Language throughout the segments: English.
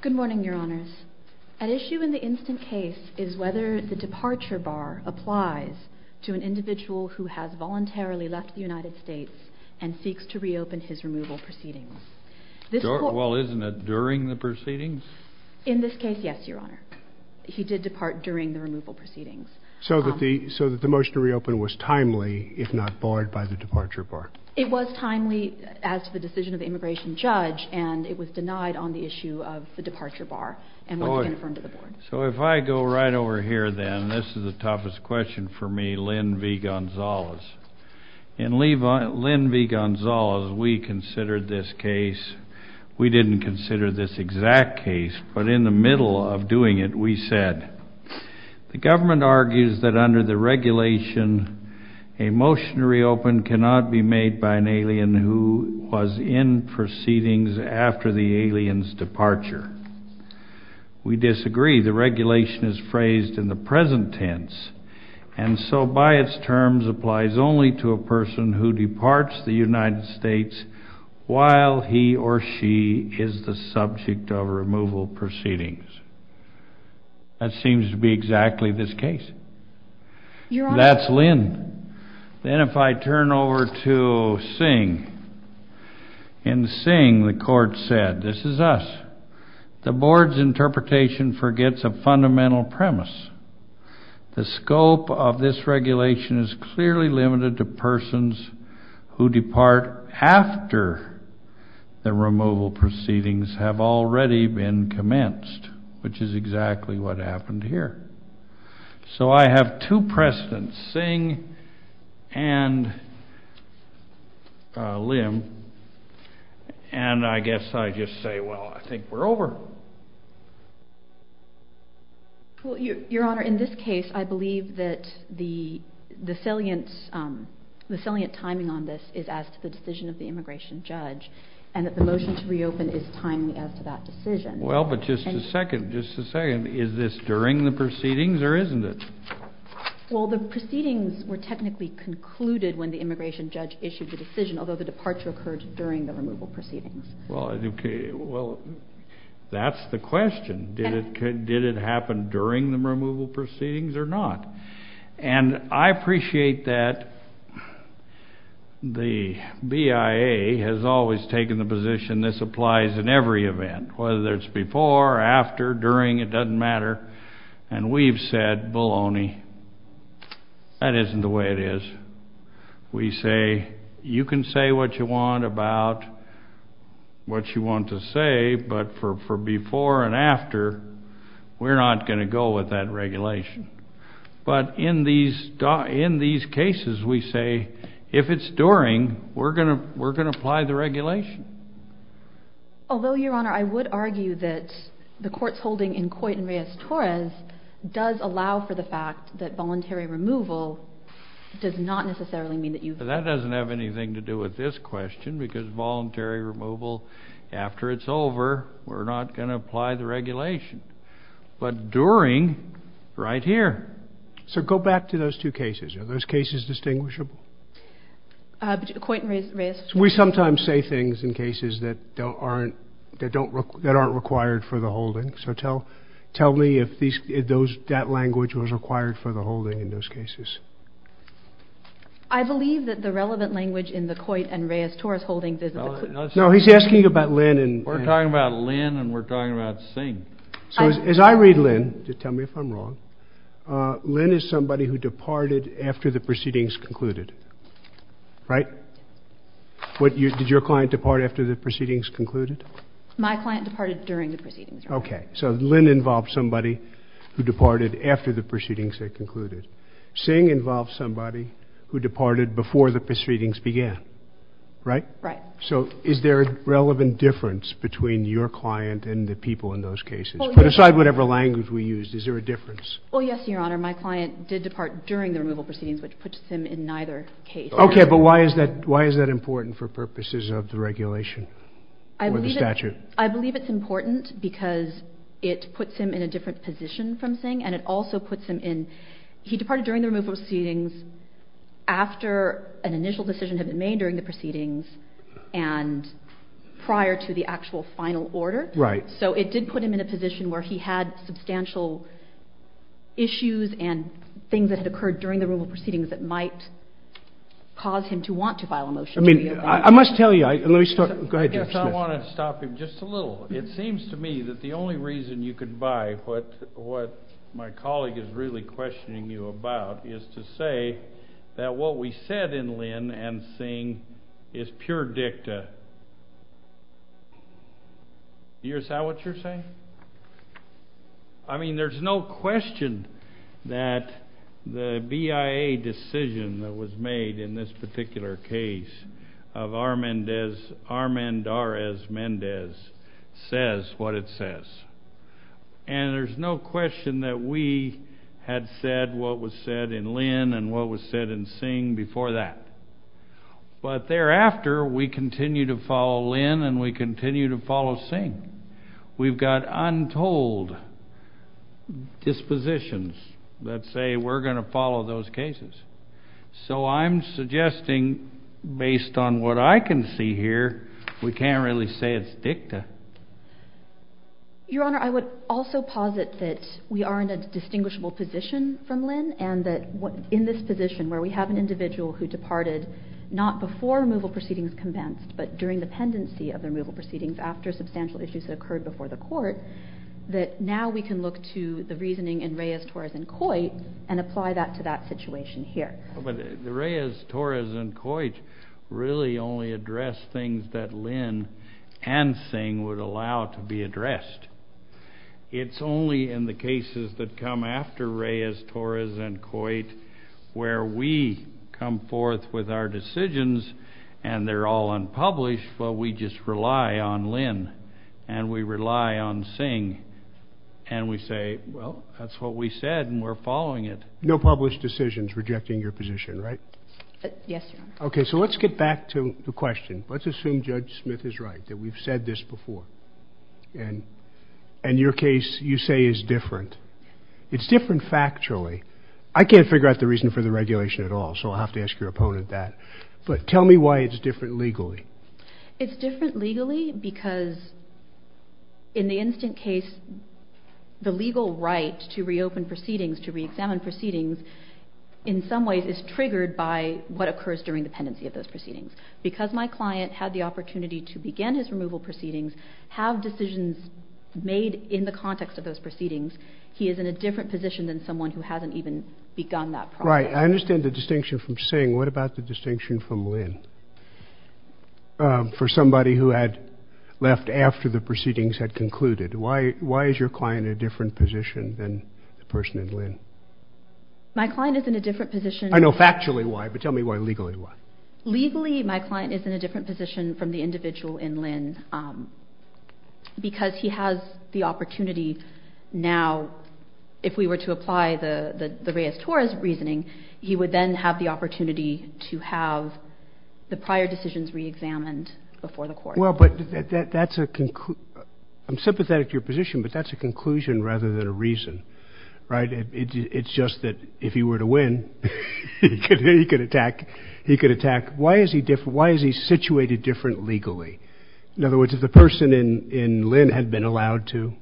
Good morning, Your Honors. An issue in the instant case is whether the departure bar applies to an individual who has voluntarily left the United States and seeks to reopen his removal proceedings. Well, isn't it during the proceedings? In this case, yes, Your Honor. He did depart during the removal proceedings. So that the motion to reopen was timely, if not barred by the departure bar. It was timely as to the decision of the immigration judge, and it was denied on the issue of the departure bar. So if I go right over here then, this is the toughest question for me, Lynn V. Gonzalez. In Lynn V. Gonzalez, we considered this case, we didn't consider this exact case, but in the middle of doing it, we said, the government argues that under the regulation, a motion to reopen cannot be made by an alien who was in proceedings after the alien's departure. We disagree. The regulation is phrased in the present tense. And so by its terms, applies only to a person who departs the United States while he or she is the subject of removal proceedings. That seems to be exactly this case. That's Lynn. Then if I turn over to Singh. In Singh, the court said, this is us. The board's interpretation forgets a fundamental premise. The scope of this regulation is clearly limited to persons who depart after the removal proceedings have already been commenced, which is exactly what happened here. So I have two precedents, Singh and Lynn, and I guess I just say, well, I think we're over. Well, Your Honor, in this case, I believe that the salient timing on this is as to the decision of the immigration judge, and that the motion to reopen is timely as to that decision. Well, but just a second, just a second. Is this during the proceedings or isn't it? Well, the proceedings were technically concluded when the immigration judge issued the decision, although the departure occurred during the removal proceedings. Well, that's the question. Did it happen during the removal proceedings or not? And I appreciate that the BIA has always taken the position this applies in every event, whether it's before, after, during, it doesn't matter. And we've said, baloney, that isn't the way it is. We say, you can say what you want about what you want to say, but for before and after, we're not going to go with that regulation. But in these cases, we say, if it's during, we're going to apply the regulation. Although, Your Honor, I would argue that the court's holding in Coit and Reyes-Torres does allow for the fact that voluntary removal does not necessarily mean that you've... That doesn't have anything to do with this question because voluntary removal, after it's over, we're not going to apply the regulation. But during, right here. So go back to those two cases, are those cases distinguishable? Coit and Reyes-Torres... We sometimes say things in cases that aren't required for the holding. So tell me if that language was required for the holding in those cases. I believe that the relevant language in the Coit and Reyes-Torres holdings is... No, he's asking about Lynn and... We're talking about Lynn and we're talking about Singh. So as I read Lynn, tell me if I'm wrong, Lynn is somebody who departed after the proceedings concluded, right? Did your client depart after the proceedings concluded? My client departed during the proceedings, Your Honor. Okay. So Lynn involved somebody who departed after the proceedings had concluded. Singh involved somebody who departed before the proceedings began, right? Right. So is there a relevant difference between your client and the people in those cases? Put aside whatever language we used, is there a difference? Well, yes, Your Honor. My client did depart during the removal proceedings, which puts him in neither case. Okay, but why is that important for purposes of the regulation or the statute? I believe it's important because it puts him in a different position from Singh and it also puts him in... He departed during the removal proceedings after an initial decision had been made during the proceedings and prior to the actual final order. So it did put him in a position where he had substantial issues and things that had occurred during the removal proceedings that might cause him to want to file a motion to... I mean, I must tell you, I... Let me start... Go ahead, Judge Smith. I want to stop him just a little. It seems to me that the only reason you could buy what my colleague is really questioning you about is to say that what we said in Lynn and Singh is pure dicta. Is that what you're saying? I mean, there's no question that the BIA decision that was made in this particular case of Armand R. S. Mendez says what it says. And there's no question that we had said what was said in Lynn and what was said in Singh before that. But thereafter, we continue to follow Lynn and we continue to follow Singh. We've got untold dispositions that say we're going to follow those cases. So I'm suggesting, based on what I can see here, we can't really say it's dicta. Your Honor, I would also posit that we are in a distinguishable position from Lynn and that in this position where we have an individual who departed not before removal proceedings commenced, but during the pendency of the removal proceedings after substantial issues that occurred before the court, that now we can look to the reasoning in Reyes, Torres, and Coit and apply that to that situation here. But the Reyes, Torres, and Coit really only address things that Lynn and Singh would allow to be addressed. It's only in the cases that come after Reyes, Torres, and Coit where we come forth with our decisions and they're all unpublished, but we just rely on Lynn and we rely on Singh and we say, well, that's what we said and we're following it. No published decisions rejecting your position, right? Yes, Your Honor. Okay. So let's get back to the question. Let's assume Judge Smith is right, that we've said this before. And your case, you say, is different. It's different factually. I can't figure out the reason for the regulation at all, so I'll have to ask your opponent about that. But tell me why it's different legally. It's different legally because in the instant case, the legal right to reopen proceedings, to re-examine proceedings, in some ways is triggered by what occurs during the pendency of those proceedings. Because my client had the opportunity to begin his removal proceedings, have decisions made in the context of those proceedings, he is in a different position than someone who hasn't even begun that process. Right. And I understand the distinction from Singh. What about the distinction from Lynn? For somebody who had left after the proceedings had concluded, why is your client in a different position than the person in Lynn? My client is in a different position. I know factually why, but tell me legally why. Legally, my client is in a different position from the individual in Lynn because he has the opportunity now, if we were to apply the Reyes-Torres reasoning, he would then have the opportunity to have the prior decisions re-examined before the court. Well, but that's a conclusion, I'm sympathetic to your position, but that's a conclusion rather than a reason, right? It's just that if he were to win, he could attack, he could attack. Why is he different? Why is he situated different legally? In other words, if the person in Lynn had been allowed to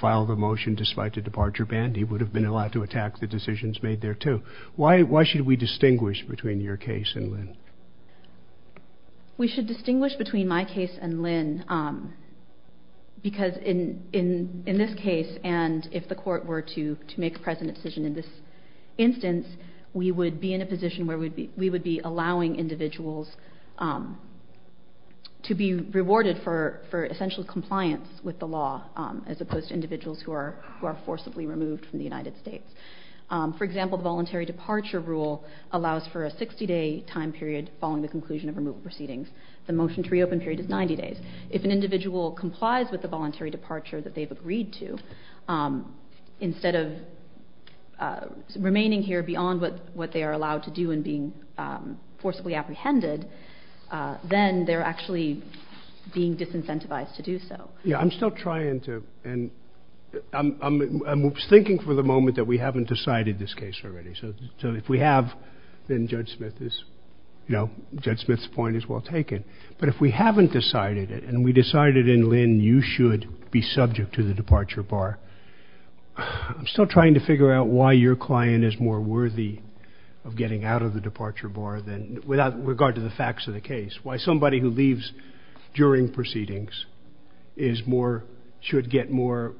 file the motion despite the departure ban, he would have been allowed to attack the decisions made there too. Why should we distinguish between your case and Lynn? We should distinguish between my case and Lynn because in this case and if the court were to make a present decision in this instance, we would be in a position where we would be in a position to be rewarded for essential compliance with the law as opposed to individuals who are forcibly removed from the United States. For example, the voluntary departure rule allows for a 60-day time period following the conclusion of removal proceedings. The motion to reopen period is 90 days. If an individual complies with the voluntary departure that they've agreed to, instead of remaining here beyond what they are allowed to do and being forcibly apprehended, then they're actually being disincentivized to do so. Yeah, I'm still trying to, and I'm thinking for the moment that we haven't decided this case already. So if we have, then Judge Smith is, you know, Judge Smith's point is well taken. But if we haven't decided it and we decided in Lynn you should be subject to the departure bar, I'm still trying to figure out why your client is more worthy of getting out of the departure bar without regard to the facts of the case. Why somebody who leaves during proceedings should get more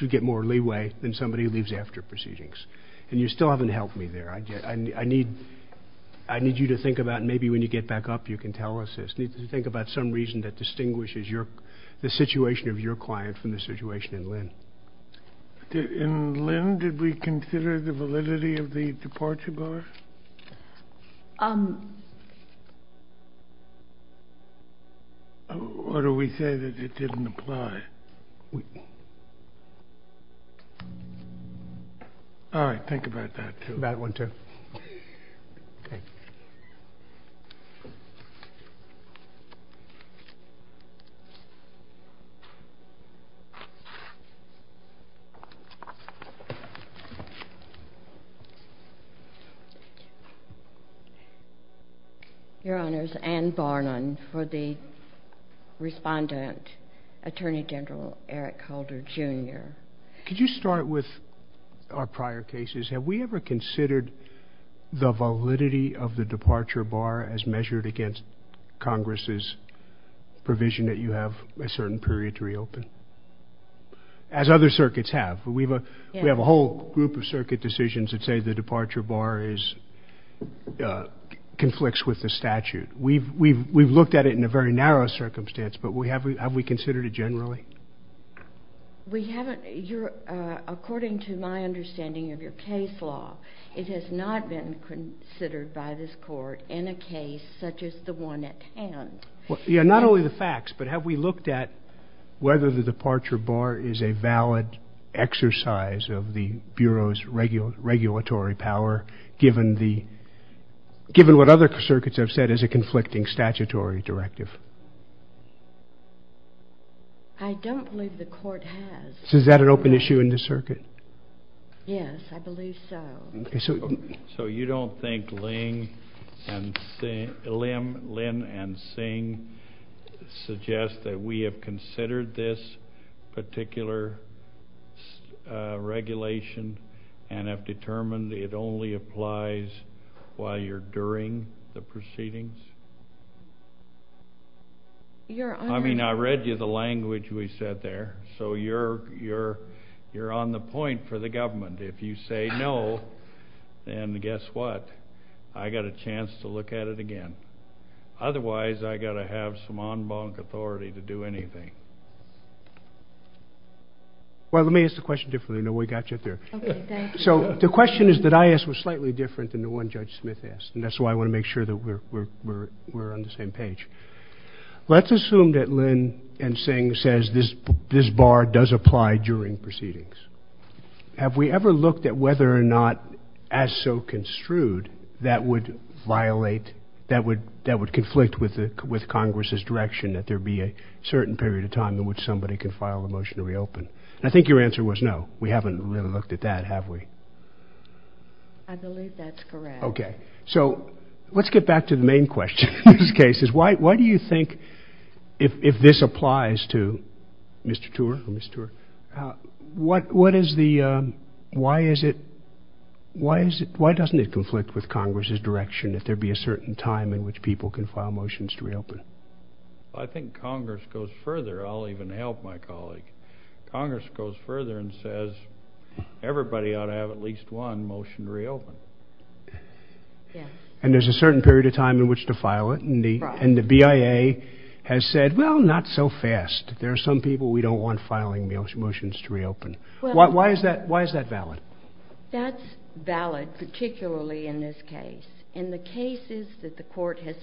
leeway than somebody who leaves after proceedings. And you still haven't helped me there. I need you to think about, and maybe when you get back up you can tell us this, think about some reason that distinguishes the situation of your client from the situation in Lynn. In Lynn, did we consider the validity of the departure bar, or do we say that it didn't apply? All right, think about that too. That one too. Okay. Your Honors, Ann Barnum for the respondent, Attorney General Eric Holder, Jr. Could you start with our prior cases? Have we ever considered the validity of the departure bar as measured against Congress's provision that you have a certain period to reopen? As other circuits have. We have a whole group of circuit decisions that say the departure bar conflicts with the statute. We've looked at it in a very narrow circumstance, but have we considered it generally? We haven't. According to my understanding of your case law, it has not been considered by this Court in a case such as the one at hand. Not only the facts, but have we looked at whether the departure bar is a valid exercise of the Bureau's regulatory power, given what other circuits have said is a conflicting statutory directive? I don't believe the Court has. Is that an open issue in this circuit? Yes, I believe so. So you don't think Lynn and Singh suggest that we have considered this particular regulation and have determined it only applies while you're during the proceedings? I mean, I read you the language we said there, so you're on the point for the government. If you say no, then guess what? I got a chance to look at it again. Otherwise, I got to have some en banc authority to do anything. Well, let me ask the question differently. No, we got you there. So the question is that I asked was slightly different than the one Judge Smith asked, and that's why I want to make sure that we're on the same page. Let's assume that Lynn and Singh says this bar does apply during proceedings. Have we ever looked at whether or not, as so construed, that would violate, that would conflict with Congress's direction that there be a certain period of time in which somebody can file a motion to reopen? I think your answer was no. We haven't really looked at that, have we? I believe that's correct. Okay. So let's get back to the main question in this case, is why do you think, if this applies to Mr. Tuer, or Ms. Tuer, what is the, why is it, why doesn't it conflict with Congress's direction that there be a certain time in which people can file motions to reopen? I think Congress goes further, I'll even help my colleague, Congress goes further and says everybody ought to have at least one motion to reopen. And there's a certain period of time in which to file it, and the BIA has said, well, not so fast. There are some people we don't want filing motions to reopen. Why is that valid? That's valid, particularly in this case. In the cases that the court has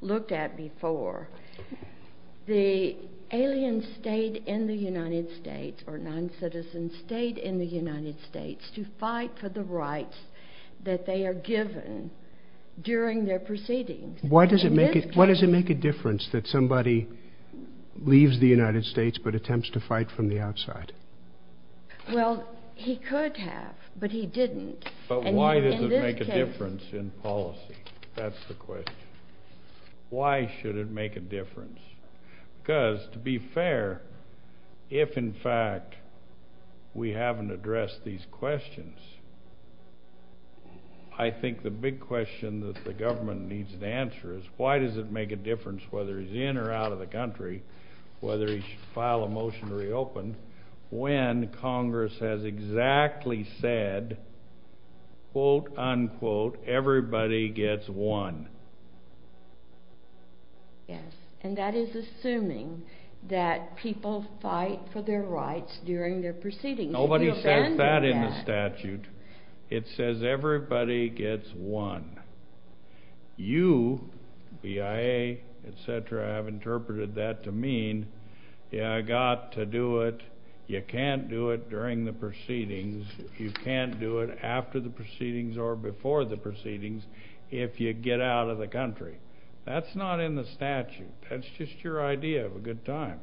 looked at before, the alien state in the United States, or non-citizen state in the United States, to fight for the rights that they are given during their proceedings. Why does it make a difference that somebody leaves the United States but attempts to fight from the outside? Well, he could have, but he didn't. But why does it make a difference in policy? That's the question. Why should it make a difference? Because, to be fair, if in fact we haven't addressed these questions, I think the big question that the government needs to answer is, why does it make a difference whether he's in or out of the country, whether he should file a motion to reopen, when Congress has exactly said, quote, unquote, everybody gets one? Yes. And that is assuming that people fight for their rights during their proceedings. Nobody says that in the statute. It says everybody gets one. You, BIA, et cetera, have interpreted that to mean, yeah, I got to do it, you can't do it during the proceedings, you can't do it after the proceedings or before the proceedings, if you get out of the country. That's not in the statute. That's just your idea of a good time,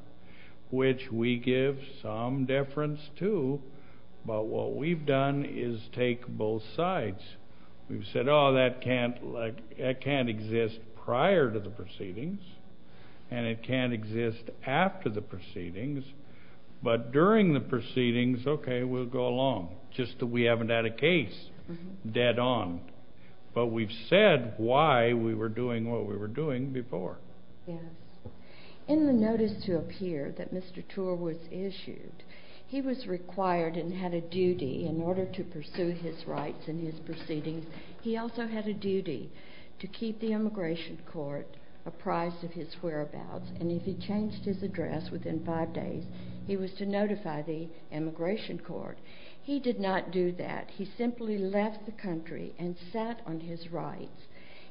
which we give some deference to, but what we've done is take both sides. We've said, oh, that can't exist prior to the proceedings, and it can't exist after the proceedings, but during the proceedings, okay, we'll go along, just that we haven't had a case dead on. But we've said why we were doing what we were doing before. Yes. In the notice to appear that Mr. Torr was issued, he was required and had a duty in order to pursue his rights and his proceedings, he also had a duty to keep the immigration court apprised of his whereabouts, and if he changed his address within five days, he was to notify the immigration court. He did not do that. He simply left the country and sat on his rights,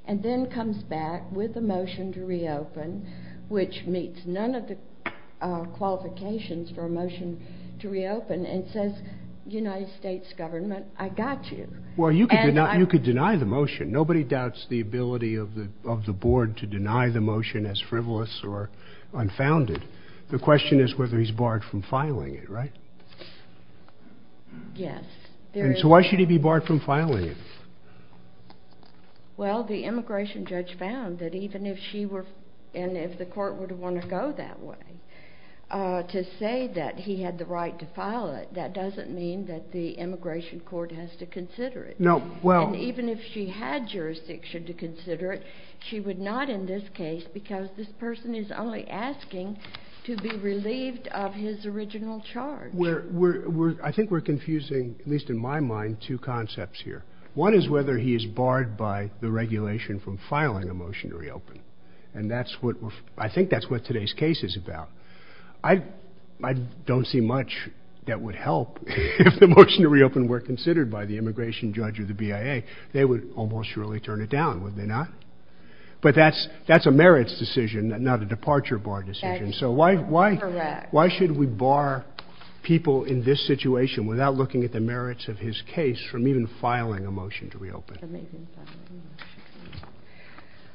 and then comes back with a motion to reopen, which meets none of the qualifications for a motion to reopen, and says, United States government, I got you. Well, you could deny the motion. Nobody doubts the ability of the board to deny the motion as frivolous or unfounded. The question is whether he's barred from filing it, right? Yes. So why should he be barred from filing it? Well, the immigration judge found that even if she were, and if the court would have wanted to go that way, to say that he had the right to file it, that doesn't mean that the immigration court has to consider it. Even if she had jurisdiction to consider it, she would not in this case, because this person is only asking to be relieved of his original charge. I think we're confusing, at least in my mind, two concepts here. One is whether he is barred by the regulation from filing a motion to reopen. And I think that's what today's case is about. I don't see much that would help if the motion to reopen were considered by the immigration judge or the BIA. They would almost surely turn it down, would they not? But that's a merits decision, not a departure bar decision. So why should we bar people in this situation, without looking at the merits of his case, from even filing a motion to reopen?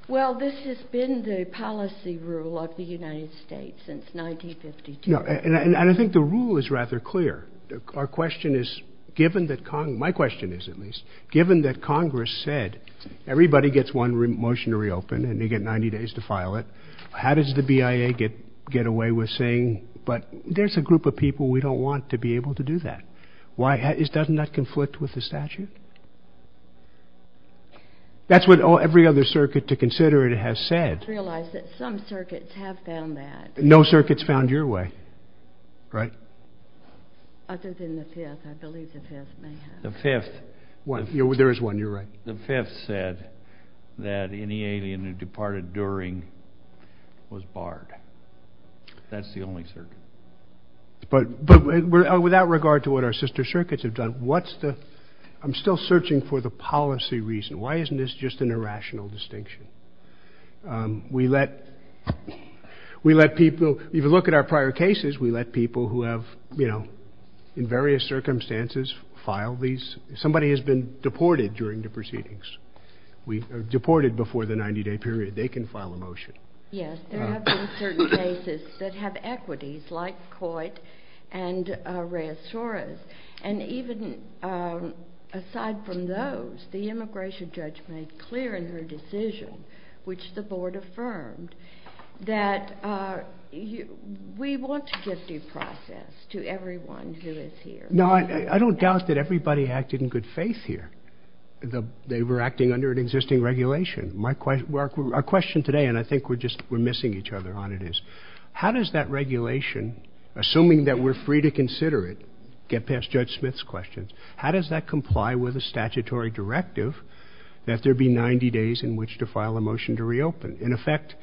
Well, this has been the policy rule of the United States since 1952. And I think the rule is rather clear. Our question is, given that Congress, my question is at least, given that Congress said, everybody gets one motion to reopen and they get 90 days to file it. How does the BIA get away with saying, but there's a group of people we don't want to be able to do that. Why? Doesn't that conflict with the statute? That's what every other circuit to consider it has said. I realize that some circuits have found that. No circuits found your way. Right. Other than the Fifth, I believe the Fifth may have. The Fifth. There is one. You're right. The Fifth said that any alien who departed during was barred. That's the only circuit. But without regard to what our sister circuits have done, what's the, I'm still searching for the policy reason. Why isn't this just an irrational distinction? We let people, if you look at our prior cases, we let people who have, you know, in various proceedings, we deported before the 90 day period. They can file a motion. Yes. There have been certain cases that have equities like Coit and Reyes Torres. And even aside from those, the immigration judge made clear in her decision, which the board affirmed, that we want to get due process to everyone who is here. No, I don't doubt that everybody acted in good faith here. They were acting under an existing regulation. My question, our question today, and I think we're just, we're missing each other on it is, how does that regulation, assuming that we're free to consider it, get past Judge Smith's questions, how does that comply with a statutory directive that there be 90 days in which to file a motion to reopen? In effect,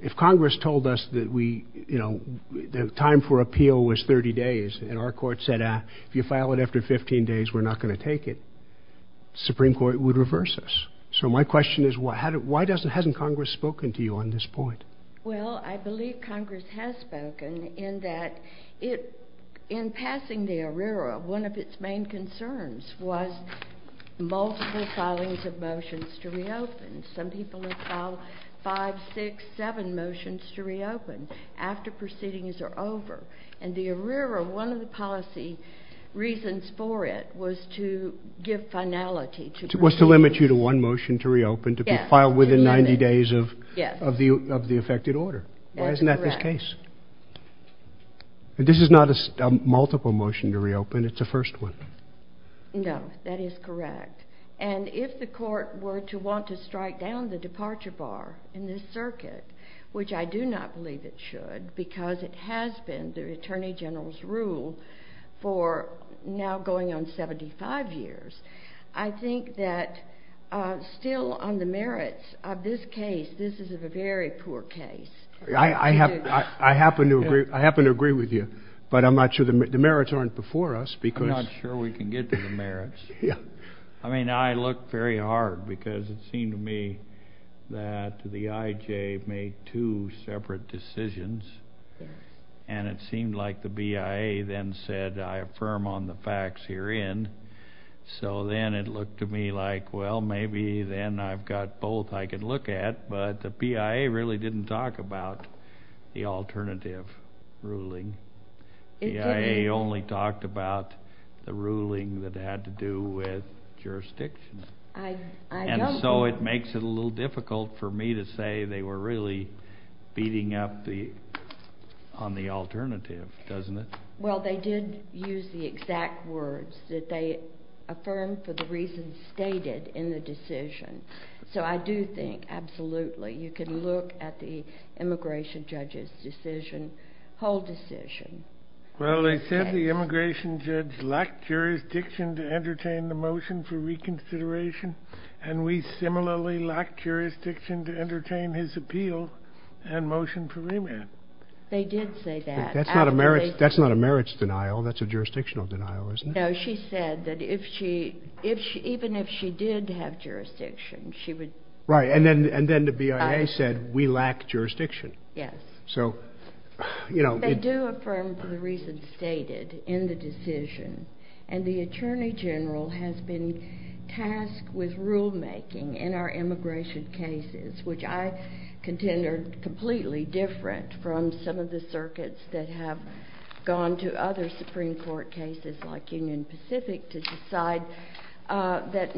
if Congress told us that we, you know, the time for appeal was 30 days and our court said, if you file it after 15 days, we're not going to take it, Supreme Court would reverse us. So my question is, why hasn't Congress spoken to you on this point? Well, I believe Congress has spoken in that it, in passing the ARERA, one of its main concerns was multiple filings of motions to reopen. Some people have filed five, six, seven motions to reopen after proceedings are over. And the ARERA, one of the policy reasons for it was to give finality. Was to limit you to one motion to reopen to be filed within 90 days of the effected order. Why isn't that this case? This is not a multiple motion to reopen, it's a first one. No, that is correct. And if the court were to want to strike down the departure bar in this circuit, which I believe is the Attorney General's rule for now going on 75 years, I think that still on the merits of this case, this is a very poor case. I happen to agree with you, but I'm not sure, the merits aren't before us, because... I'm not sure we can get to the merits. I mean, I look very hard because it seemed to me that the IJ made two separate decisions and it seemed like the BIA then said, I affirm on the facts herein. So then it looked to me like, well, maybe then I've got both I can look at, but the BIA really didn't talk about the alternative ruling. The BIA only talked about the ruling that had to do with jurisdiction. And so it makes it a little difficult for me to say they were really beating up on the alternative, doesn't it? Well, they did use the exact words that they affirmed for the reasons stated in the decision. So I do think, absolutely, you can look at the immigration judge's decision, whole decision. Well, they said the immigration judge lacked jurisdiction to entertain the motion for reconsideration and we similarly lacked jurisdiction to entertain his appeal and motion for remand. They did say that. That's not a merits denial, that's a jurisdictional denial, isn't it? No, she said that even if she did have jurisdiction, she would... Right, and then the BIA said, we lack jurisdiction. Yes. They do affirm the reasons stated in the decision and the Attorney General has been tasked with rulemaking in our immigration cases, which I contend are completely different from some of the circuits that have gone to other Supreme Court cases like Union Pacific to decide that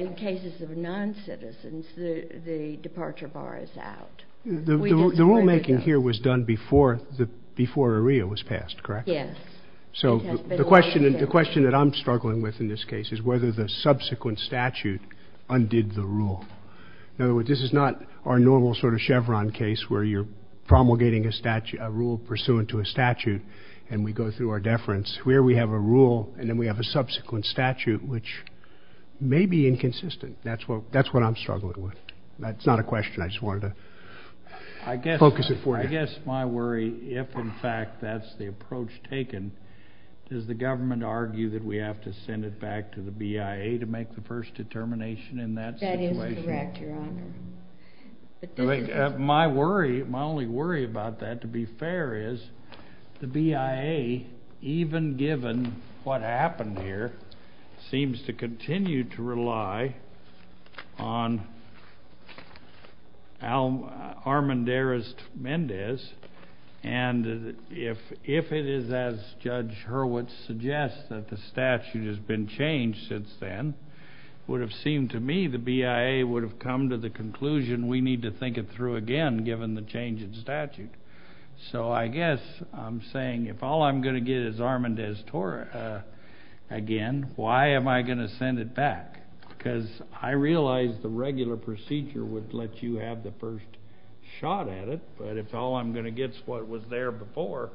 in cases of non-citizens, the departure bar is out. The rulemaking here was done before AREA was passed, correct? Yes. So the question that I'm struggling with in this case is whether the subsequent statute undid the rule. In other words, this is not our normal sort of Chevron case where you're promulgating a rule pursuant to a statute and we go through our deference. Here we have a rule and then we have a subsequent statute, which may be inconsistent. That's what I'm struggling with. That's not a question. I just wanted to focus it for you. I guess my worry, if in fact that's the approach taken, is the government argue that we have to send it back to the BIA to make the first determination in that situation? That is correct, Your Honor. But my worry, my only worry about that, to be fair, is the BIA, even given what happened here, seems to continue to rely on Armendariz-Mendez and if it is as Judge Hurwitz suggests that the statute has been changed since then, it would have seemed to me the BIA would have come to the conclusion we need to think it through again, given the change in statute. So I guess I'm saying if all I'm going to get is Armendariz-Mendez again, why am I going to send it back? Because I realize the regular procedure would let you have the first shot at it, but if all I'm going to get is what was there before,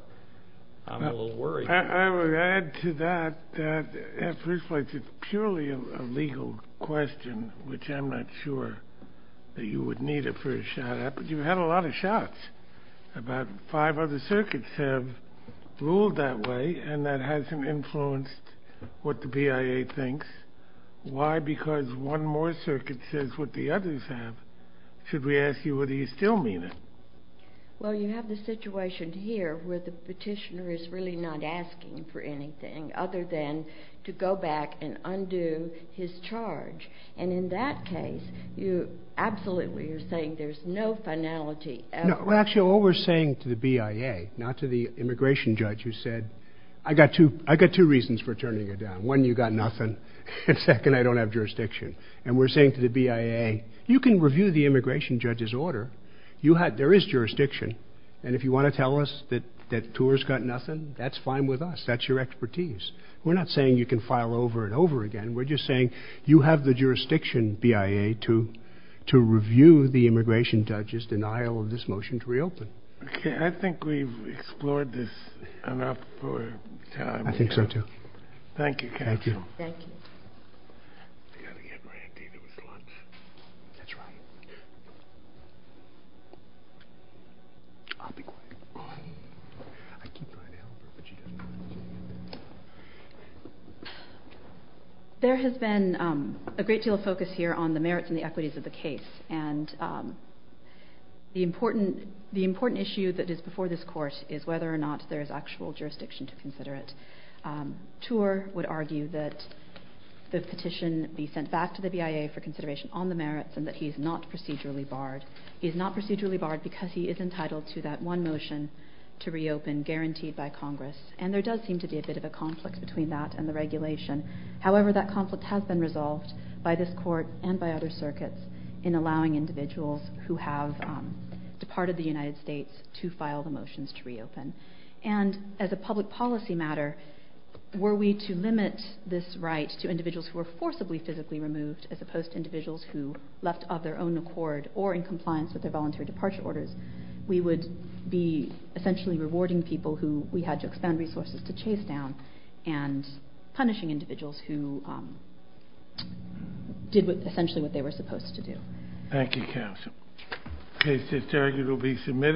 I'm a little worried. I would add to that that at first place it's purely a legal question, which I'm not sure that you would need it for a shot at, but you've had a lot of shots. About five other circuits have ruled that way and that hasn't influenced what the BIA thinks. Why? Because one more circuit says what the others have. Should we ask you whether you still mean it? Well, you have the situation here where the petitioner is really not asking for anything other than to go back and undo his charge, and in that case you absolutely are saying there's no finality at all. Actually, what we're saying to the BIA, not to the immigration judge who said, I got two reasons for turning it down. One, you got nothing. And second, I don't have jurisdiction. And we're saying to the BIA, you can review the immigration judge's order. There is jurisdiction. And if you want to tell us that TOR's got nothing, that's fine with us. That's your expertise. We're not saying you can file over and over again. We're just saying you have the jurisdiction, BIA, to review the immigration judge's denial of this motion to reopen. Okay. I think we've explored this enough for time. I think so, too. Thank you, counsel. Thank you. I'll be quiet. I keep my mouth shut, but she doesn't mind. There has been a great deal of focus here on the merits and the equities of the case. And the important issue that is before this court is whether or not there is actual jurisdiction to consider it. TOR would argue that the petition be sent back to the BIA for consideration on the merits and that he's not procedurally barred. He's not procedurally barred because he is entitled to that one motion to reopen guaranteed by Congress. And there does seem to be a bit of a conflict between that and the regulation. However, that conflict has been resolved by this court and by other circuits in allowing individuals who have departed the United States to file the motions to reopen. And as a public policy matter, were we to limit this right to individuals who were forcibly physically removed as opposed to individuals who left of their own accord or in compliance with their voluntary departure orders, we would be essentially rewarding people who we had to expand resources to chase down and punishing individuals who did essentially what they were supposed to do. Thank you, counsel. The case is argued to be submitted.